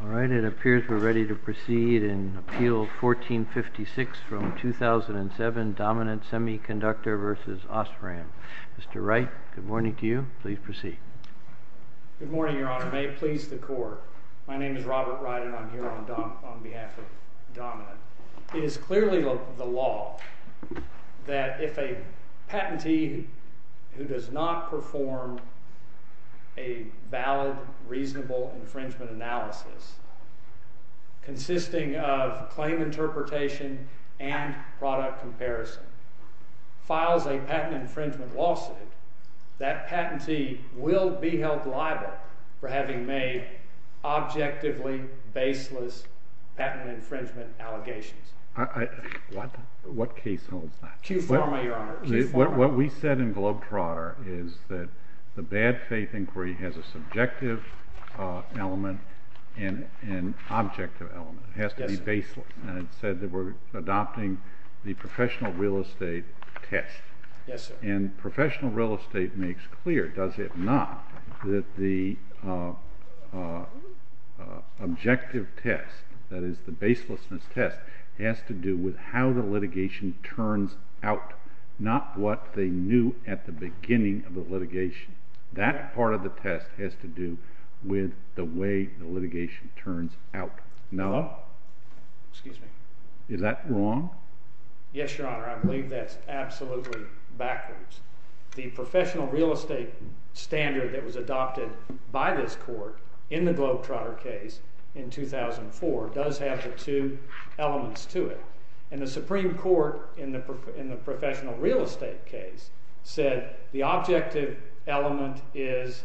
All right, it appears we're ready to proceed in Appeal 1456 from 2007, Dominant Semiconductor v. Osram. Mr. Wright, good morning to you. Please proceed. Good morning, Your Honor. May it please the Court, my name is Robert Wright and I'm here on behalf of Dominant. It is clearly the law that if a patentee who does not perform a valid, reasonable infringement analysis, consisting of claim interpretation and product comparison, files a patent infringement lawsuit, that patentee will be held liable for having made objectively baseless patent infringement allegations. What case holds that? Chief Pharma, Your Honor. What we said in Globe-Trotter is that the bad faith inquiry has a subjective element and an objective element. It has to be baseless. And it said that we're adopting the professional real estate test. Yes, sir. And professional real estate makes clear, does it not, that the objective test, that is the baselessness test, has to do with how the litigation turns out, not what they knew at the beginning of the litigation. That part of the test has to do with the way the litigation turns out. No. Excuse me. Is that wrong? Yes, Your Honor. I believe that's absolutely backwards. The professional real estate standard that was adopted by this court in the Globe-Trotter case in 2004 does have the two elements to it. And the Supreme Court, in the professional real estate case, said the objective element is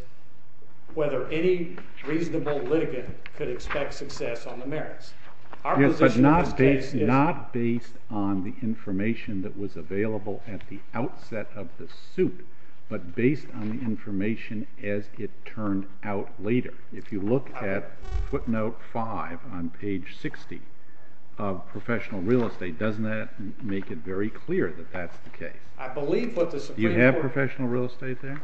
whether any reasonable litigant could expect success on the merits. Yes, but not based on the information that was available at the outset of the suit, but based on the information as it turned out later. If you look at footnote 5 on page 60 of professional real estate, doesn't that make it very clear that that's the case? I believe what the Supreme Court— Do you have professional real estate there?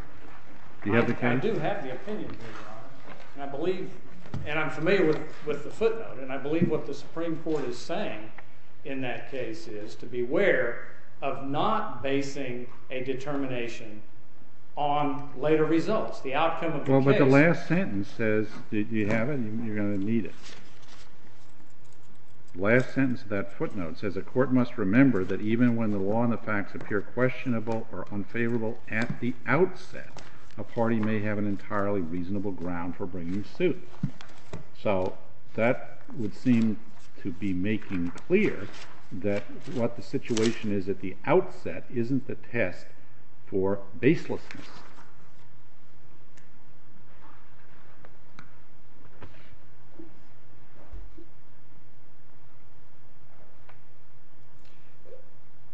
Do you have the case? I do have the opinion, Your Honor. And I'm familiar with the footnote. And I believe what the Supreme Court is saying in that case is to beware of not basing a determination on later results, the outcome of the case. The last sentence says, if you have it, you're going to need it. The last sentence of that footnote says, a court must remember that even when the law and the facts appear questionable or unfavorable at the outset, a party may have an entirely reasonable ground for bringing a suit. So that would seem to be making clear that what the situation is at the outset isn't the test for baselessness.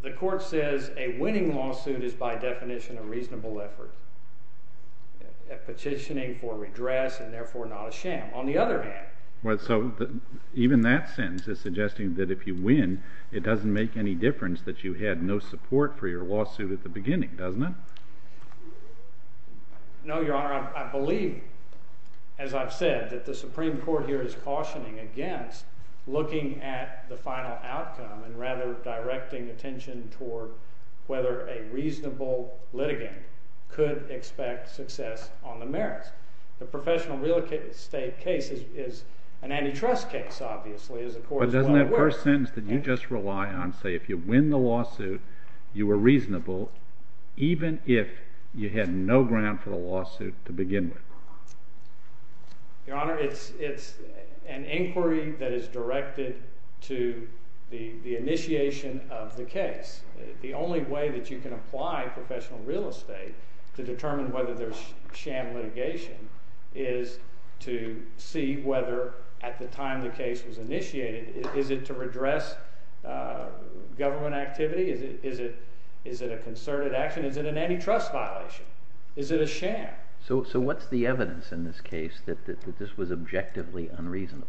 The court says a winning lawsuit is by definition a reasonable effort, a petitioning for redress and therefore not a sham. On the other hand— So even that sentence is suggesting that if you win, it doesn't make any difference that you had no support for your lawsuit at the beginning, doesn't it? No, Your Honor. I believe, as I've said, that the Supreme Court here is cautioning against looking at the final outcome and rather directing attention toward whether a reasonable litigant could expect success on the merits. The professional real estate case is an antitrust case, obviously, as the court is well aware. But doesn't that first sentence that you just rely on say, if you win the lawsuit, you were reasonable even if you had no ground for the lawsuit to begin with? Your Honor, it's an inquiry that is directed to the initiation of the case. The only way that you can apply professional real estate to determine whether there's sham litigation is to see whether at the time the case was initiated, is it to redress government activity? Is it a concerted action? Is it an antitrust violation? Is it a sham? So what's the evidence in this case that this was objectively unreasonable?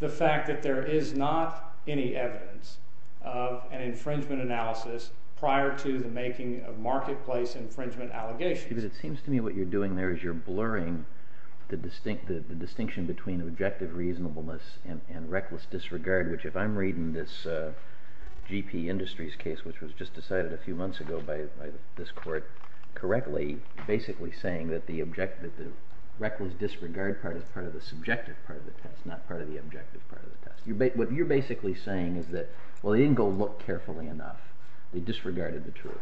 The fact that there is not any evidence of an infringement analysis prior to the making of marketplace infringement allegations. It seems to me what you're doing there is you're blurring the distinction between objective reasonableness and reckless disregard, which if I'm reading this GP Industries case, which was just decided a few months ago by this court, correctly, basically saying that the reckless disregard part is part of the subjective part of the test, not part of the objective part of the test. What you're basically saying is that, well, they didn't go look carefully enough. They disregarded the truth.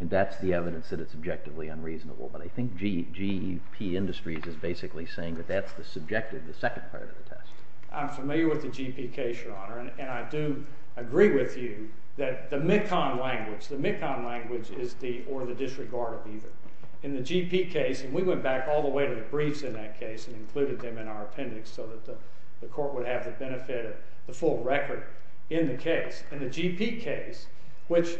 And that's the evidence that it's objectively unreasonable. But I think GP Industries is basically saying that that's the subjective, the second part of the test. I'm familiar with the GP case, Your Honor. And I do agree with you that the MECON language, the MECON language is the or the disregard of either. In the GP case, and we went back all the way to the briefs in that case and included them in our appendix so that the court would have the benefit of the full record in the case. In the GP case, which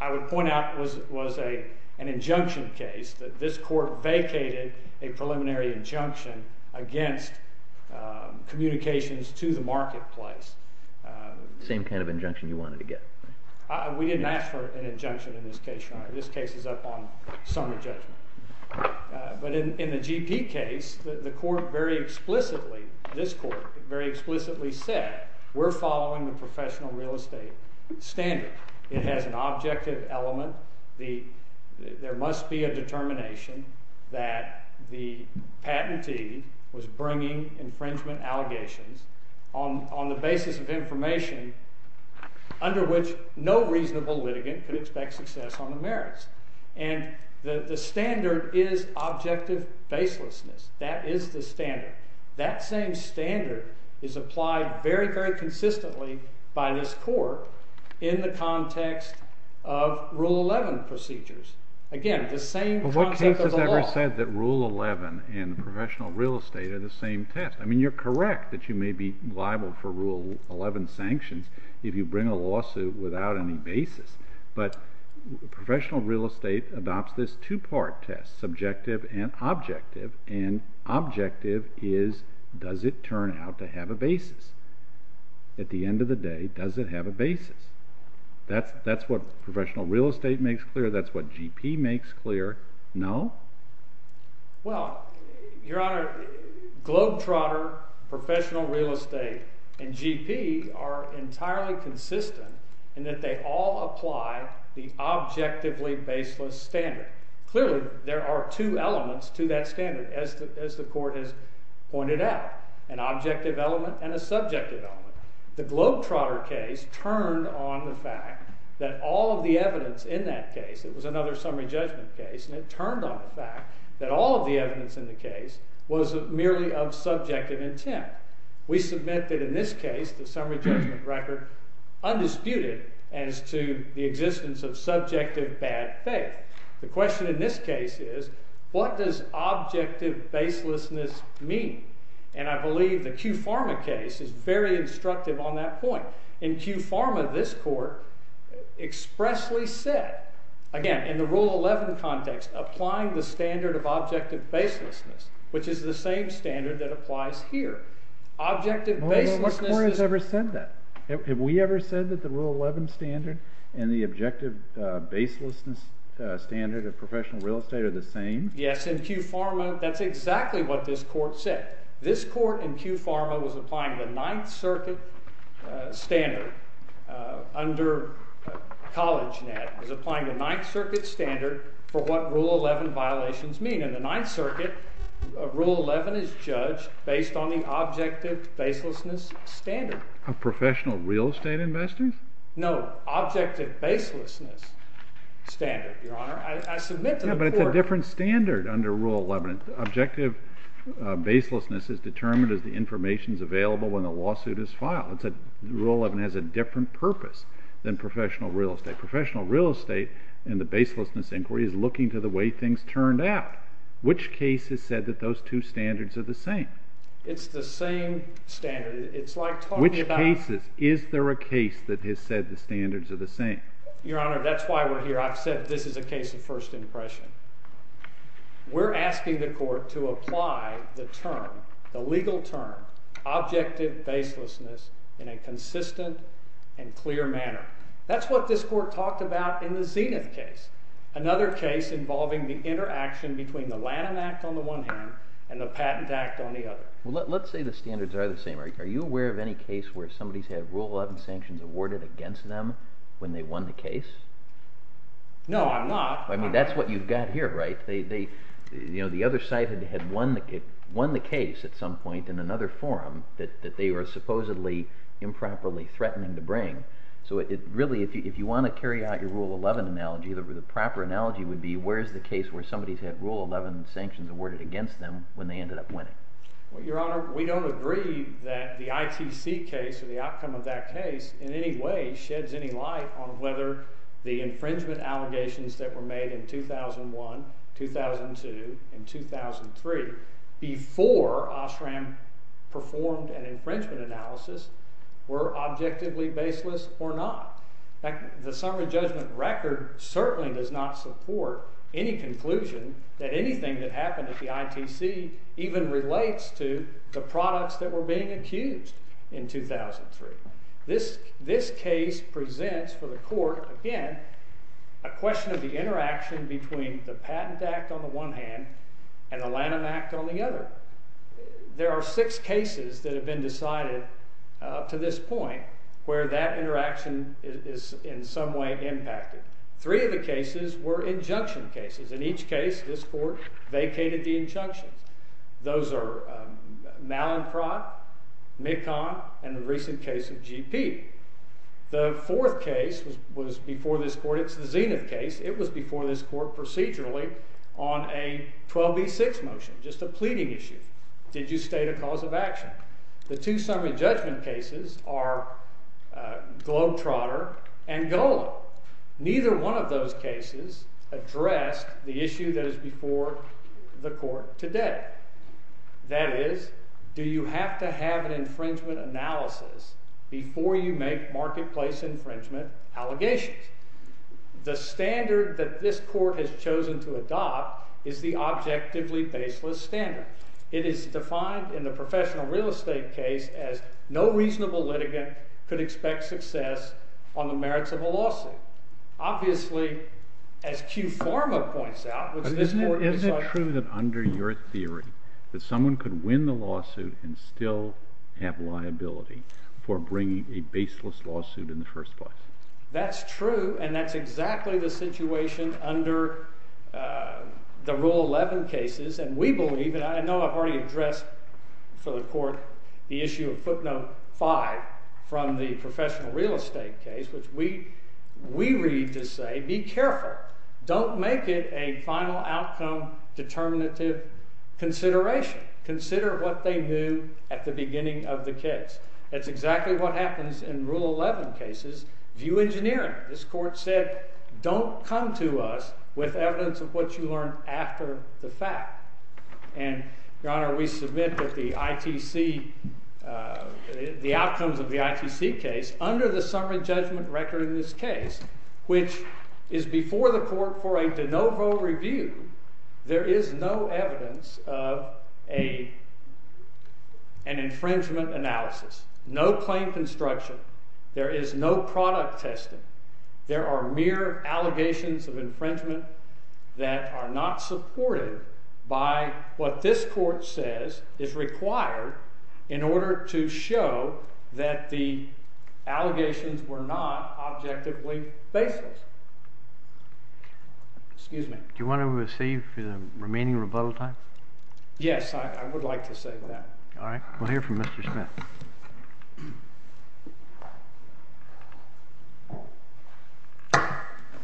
I would point out was an injunction case, that this court vacated a preliminary injunction against communications to the marketplace. The same kind of injunction you wanted to get. We didn't ask for an injunction in this case, Your Honor. This case is up on summary judgment. But in the GP case, the court very explicitly, this court very explicitly said, we're following the professional real estate standard. It has an objective element. There must be a determination that the patentee was bringing infringement allegations on the basis of information under which no reasonable litigant could expect success on the merits. And the standard is objective baselessness. That is the standard. That same standard is applied very, very consistently by this court in the context of Rule 11 procedures. Again, the same concept of the law. But what case has ever said that Rule 11 and professional real estate are the same test? I mean, you're correct that you may be liable for Rule 11 sanctions if you bring a lawsuit without any basis. But professional real estate adopts this two-part test, subjective and objective. And objective is, does it turn out to have a basis? At the end of the day, does it have a basis? That's what professional real estate makes clear. That's what GP makes clear. No? Well, Your Honor, Globetrotter, professional real estate, and GP are entirely consistent in that they all apply the objectively baseless standard. Clearly, there are two elements to that standard, as the court has pointed out, an objective element and a subjective element. The Globetrotter case turned on the fact that all of the evidence in that case, it was another summary judgment case, and it turned on the fact that all of the evidence in the case was merely of subjective intent. We submit that in this case, the summary judgment record undisputed as to the existence of subjective bad faith. The question in this case is, what does objective baselessness mean? And I believe the Q Pharma case is very instructive on that point. In Q Pharma, this court expressly said, again, in the Rule 11 context, applying the standard of objective baselessness, which is the same standard that applies here. Objective baselessness is… What court has ever said that? Have we ever said that the Rule 11 standard and the objective baselessness standard of professional real estate are the same? Yes, in Q Pharma, that's exactly what this court said. This court in Q Pharma was applying the Ninth Circuit standard under CollegeNet, was applying the Ninth Circuit standard for what Rule 11 violations mean. In the Ninth Circuit, Rule 11 is judged based on the objective baselessness standard. Of professional real estate investors? No, objective baselessness standard, Your Honor. I submit to the court… Yeah, but it's a different standard under Rule 11. Objective baselessness is determined as the information is available when a lawsuit is filed. Rule 11 has a different purpose than professional real estate. Professional real estate in the baselessness inquiry is looking to the way things turned out. Which case has said that those two standards are the same? It's the same standard. It's like talking about… Which cases? Is there a case that has said the standards are the same? Your Honor, that's why we're here. I've said this is a case of first impression. We're asking the court to apply the term, the legal term, objective baselessness, in a consistent and clear manner. That's what this court talked about in the Zenith case, another case involving the interaction between the Lanham Act on the one hand and the Patent Act on the other. Let's say the standards are the same. Are you aware of any case where somebody's had Rule 11 sanctions awarded against them when they won the case? No, I'm not. I mean, that's what you've got here, right? The other side had won the case at some point in another forum that they were supposedly improperly threatening to bring. So really, if you want to carry out your Rule 11 analogy, the proper analogy would be where's the case where somebody's had Rule 11 sanctions awarded against them when they ended up winning? Well, Your Honor, we don't agree that the ITC case or the outcome of that case in any way sheds any light on whether the infringement allegations that were made in 2001, 2002, and 2003 before OSRAM performed an infringement analysis were objectively baseless or not. In fact, the summary judgment record certainly does not support any conclusion that anything that happened at the ITC even relates to the products that were being accused in 2003. This case presents for the court, again, a question of the interaction between the Patent Act on the one hand and the Lanham Act on the other. There are six cases that have been decided up to this point where that interaction is in some way impacted. Three of the cases were injunction cases. In each case, this court vacated the injunctions. Those are Mallin-Prodt, Mekong, and the recent case of GP. The fourth case was before this court. It's the Zenith case. It was before this court procedurally on a 12b6 motion, just a pleading issue. Did you state a cause of action? The two summary judgment cases are Globetrotter and Golub. Neither one of those cases addressed the issue that is before the court today. That is, do you have to have an infringement analysis before you make marketplace infringement allegations? The standard that this court has chosen to adopt is the objectively baseless standard. It is defined in the professional real estate case as no reasonable litigant could expect success on the merits of a lawsuit. Obviously, as Q Pharma points out, which this court decided— Isn't it true that under your theory that someone could win the lawsuit and still have liability for bringing a baseless lawsuit in the first place? That's true, and that's exactly the situation under the Rule 11 cases. And we believe—and I know I've already addressed for the court the issue of footnote 5 from the professional real estate case, which we read to say, be careful. Don't make it a final outcome determinative consideration. Consider what they knew at the beginning of the case. That's exactly what happens in Rule 11 cases. View engineering. This court said, don't come to us with evidence of what you learned after the fact. And, Your Honor, we submit that the outcomes of the ITC case, under the summary judgment record in this case, which is before the court for a de novo review, there is no evidence of an infringement analysis. No claim construction. There is no product testing. There are mere allegations of infringement that are not supported by what this court says is required in order to show that the allegations were not objectively baseless. Excuse me. Do you want to receive the remaining rebuttal time? Yes, I would like to say that. All right. We'll hear from Mr. Smith.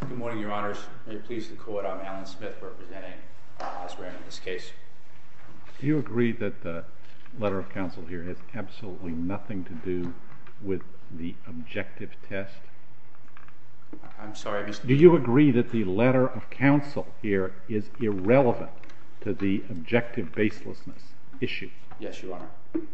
Good morning, Your Honors. May it please the court, I'm Alan Smith representing Osborne in this case. Do you agree that the letter of counsel here has absolutely nothing to do with the objective test? I'm sorry, Mr. Do you agree that the letter of counsel here is irrelevant to the objective baselessness issue? Yes, Your Honor.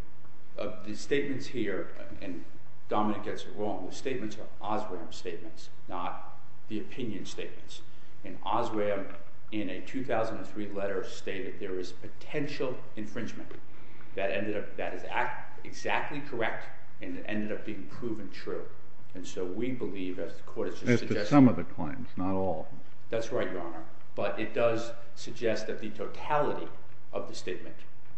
The statements here, and Dominic gets it wrong, the statements are Osram statements, not the opinion statements. And Osram, in a 2003 letter, stated there is potential infringement that is exactly correct and ended up being proven true. And so we believe, as the court has just suggested— As to some of the claims, not all of them. That's right, Your Honor. But it does suggest that the totality of the statement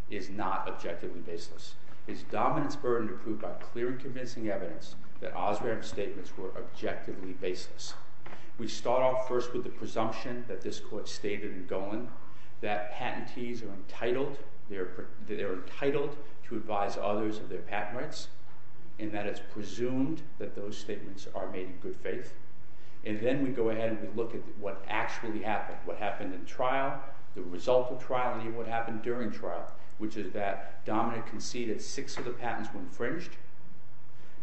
is not objectively baseless. It's Dominic's burden to prove by clear and convincing evidence that Osram's statements were objectively baseless. We start off first with the presumption that this court stated in Golan that patentees are entitled to advise others of their patent rights, and that it's presumed that those statements are made in good faith. And then we go ahead and we look at what actually happened. What happened in trial, the result of trial, and even what happened during trial, which is that Dominic conceded six of the patents were infringed.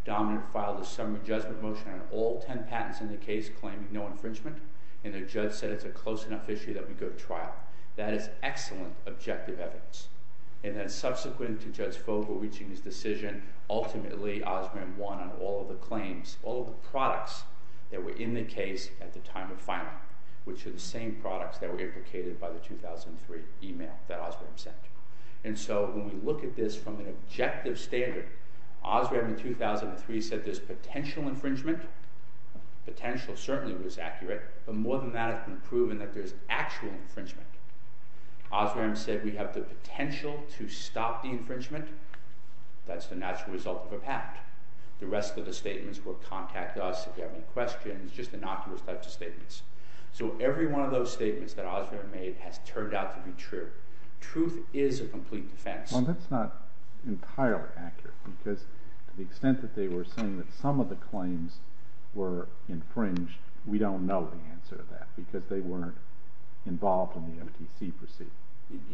Dominic filed a summary judgment motion on all ten patents in the case claiming no infringement, and the judge said it's a close enough issue that we go to trial. That is excellent objective evidence. And then subsequent to Judge Fogle reaching his decision, ultimately Osram won on all of the claims, all of the products that were in the case at the time of filing, which are the same products that were implicated by the 2003 email that Osram sent. And so when we look at this from an objective standard, Osram in 2003 said there's potential infringement. Potential certainly was accurate, but more than that has been proven that there's actual infringement. Osram said we have the potential to stop the infringement. That's the natural result of a patent. The rest of the statements will contact us if you have any questions, just innocuous types of statements. So every one of those statements that Osram made has turned out to be true. Truth is a complete defense. Well, that's not entirely accurate because to the extent that they were saying that some of the claims were infringed, we don't know the answer to that because they weren't involved in the MTC proceeding.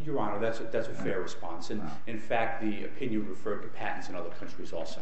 Your Honor, that's a fair response. In fact, the opinion referred to patents in other countries also.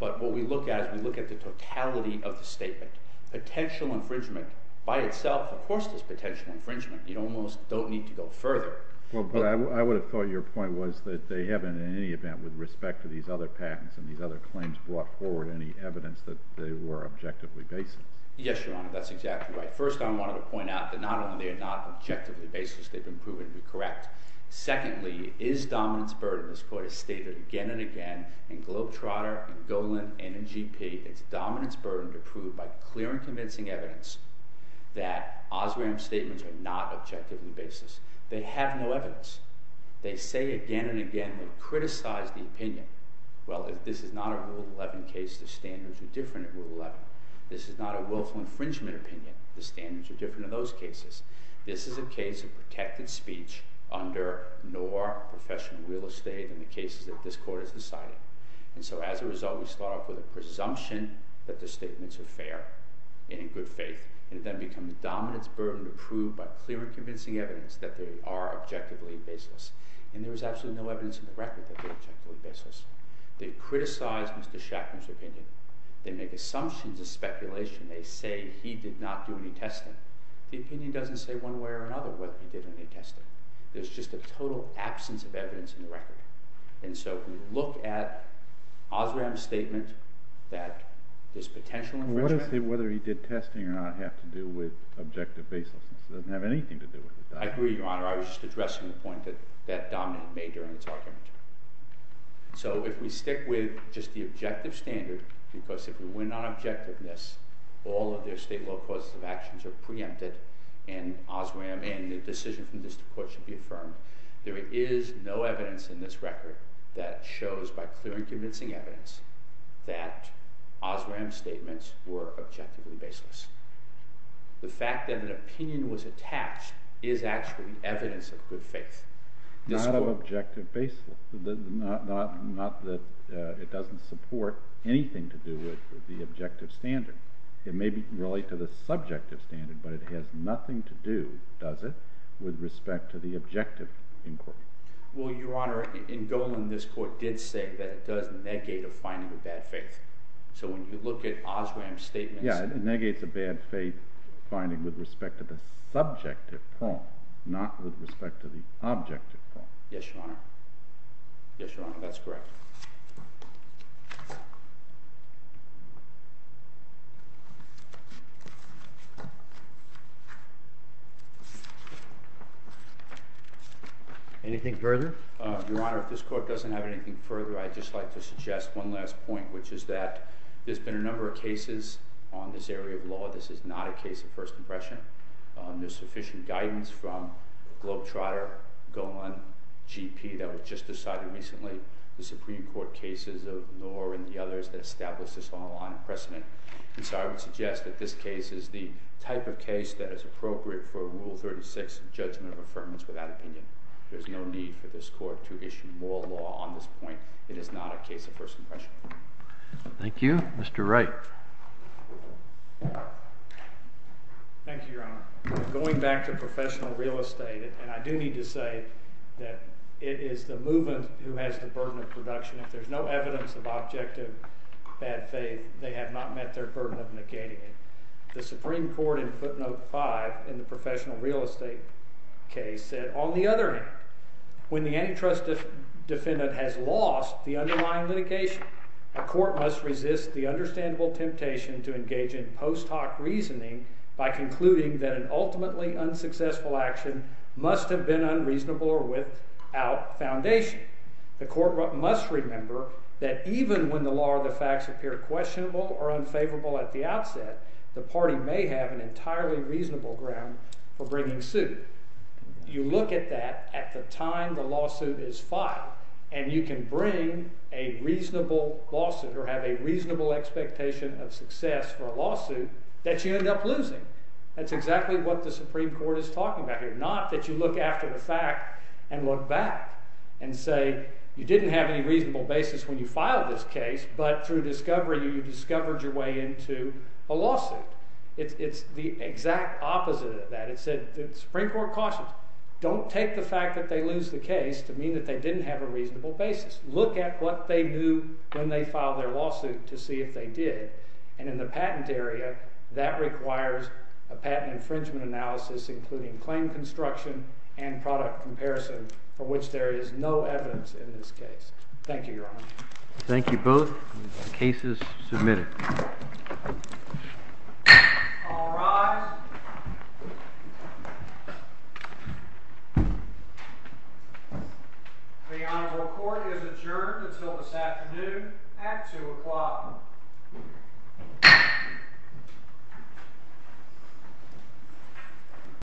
But what we look at is we look at the totality of the statement. Potential infringement by itself, of course, there's potential infringement. You almost don't need to go further. Well, but I would have thought your point was that they haven't in any event with respect to these other patents and these other claims brought forward any evidence that they were objectively baseless. Yes, Your Honor, that's exactly right. First, I wanted to point out that not only are they not objectively baseless, they've been proven to be correct. Secondly, it is a dominance burden. This Court has stated again and again in Globe Trotter and Golan and in GP it's a dominance burden to prove by clear and convincing evidence that Osram's statements are not objectively baseless. They have no evidence. They say again and again and criticize the opinion. Well, this is not a Rule 11 case. The standards are different in Rule 11. This is not a willful infringement opinion. The standards are different in those cases. This is a case of protected speech under NOR, professional real estate, in the cases that this Court has decided. And so as a result, we start off with a presumption that the statements are fair and in good faith. And then it becomes a dominance burden to prove by clear and convincing evidence that they are objectively baseless. And there is absolutely no evidence in the record that they are objectively baseless. They criticize Mr. Shatner's opinion. They make assumptions of speculation. They say he did not do any testing. The opinion doesn't say one way or another whether he did any testing. There is just a total absence of evidence in the record. And so if we look at Osram's statement that this potential infringement What does whether he did testing or not have to do with objective baselessness? It doesn't have anything to do with it. I agree, Your Honor. I was just addressing the point that Dominant made during its argument. So if we stick with just the objective standard, because if we went on objectiveness, all of their state law causes of actions are preempted, and Osram and the decision from the District Court should be affirmed. There is no evidence in this record that shows by clear and convincing evidence that Osram's statements were objectively baseless. The fact that an opinion was attached is actually evidence of good faith. Not of objective baselessness. Not that it doesn't support anything to do with the objective standard. It may relate to the subjective standard, but it has nothing to do, does it, with respect to the objective inquiry. Well, Your Honor, in Golan this Court did say that it does negate a finding of bad faith. So when you look at Osram's statements Yeah, it negates a bad faith finding with respect to the subjective prong, not with respect to the objective prong. Yes, Your Honor. Yes, Your Honor, that's correct. Anything further? Your Honor, if this Court doesn't have anything further, I'd just like to suggest one last point, which is that there's been a number of cases on this area of law. This is not a case of first impression. There's sufficient guidance from Globetrotter, Golan, GP that was just decided recently, the Supreme Court cases of Knorr and the others that established this law on precedent. And so I would suggest that this case is the type of case that is appropriate for Rule 36, a judgment of affirmance without opinion. There's no need for this Court to issue more law on this point. It is not a case of first impression. Thank you. Mr. Wright. Thank you, Your Honor. Going back to professional real estate, and I do need to say that it is the movement who has the burden of production. If there's no evidence of objective bad faith, they have not met their burden of negating it. The Supreme Court in footnote 5 in the professional real estate case said, on the other hand, when the antitrust defendant has lost the underlying litigation, a court must resist the understandable temptation to engage in post hoc reasoning by concluding that an ultimately unsuccessful action must have been unreasonable or without foundation. The court must remember that even when the law or the facts appear questionable or unfavorable at the outset, the party may have an entirely reasonable ground for bringing suit. You look at that at the time the lawsuit is filed, and you can bring a reasonable lawsuit or have a reasonable expectation of success for a lawsuit that you end up losing. That's exactly what the Supreme Court is talking about here. Not that you look after the fact and look back and say, you didn't have any reasonable basis when you filed this case, but through discovery you discovered your way into a lawsuit. It's the exact opposite of that. The Supreme Court cautions, don't take the fact that they lose the case to mean that they didn't have a reasonable basis. Look at what they do when they file their lawsuit to see if they did, and in the patent area, that requires a patent infringement analysis including claim construction and product comparison for which there is no evidence in this case. Thank you, Your Honor. Thank you both. The case is submitted. All rise. The Honorable Court is adjourned until this afternoon at 2 o'clock.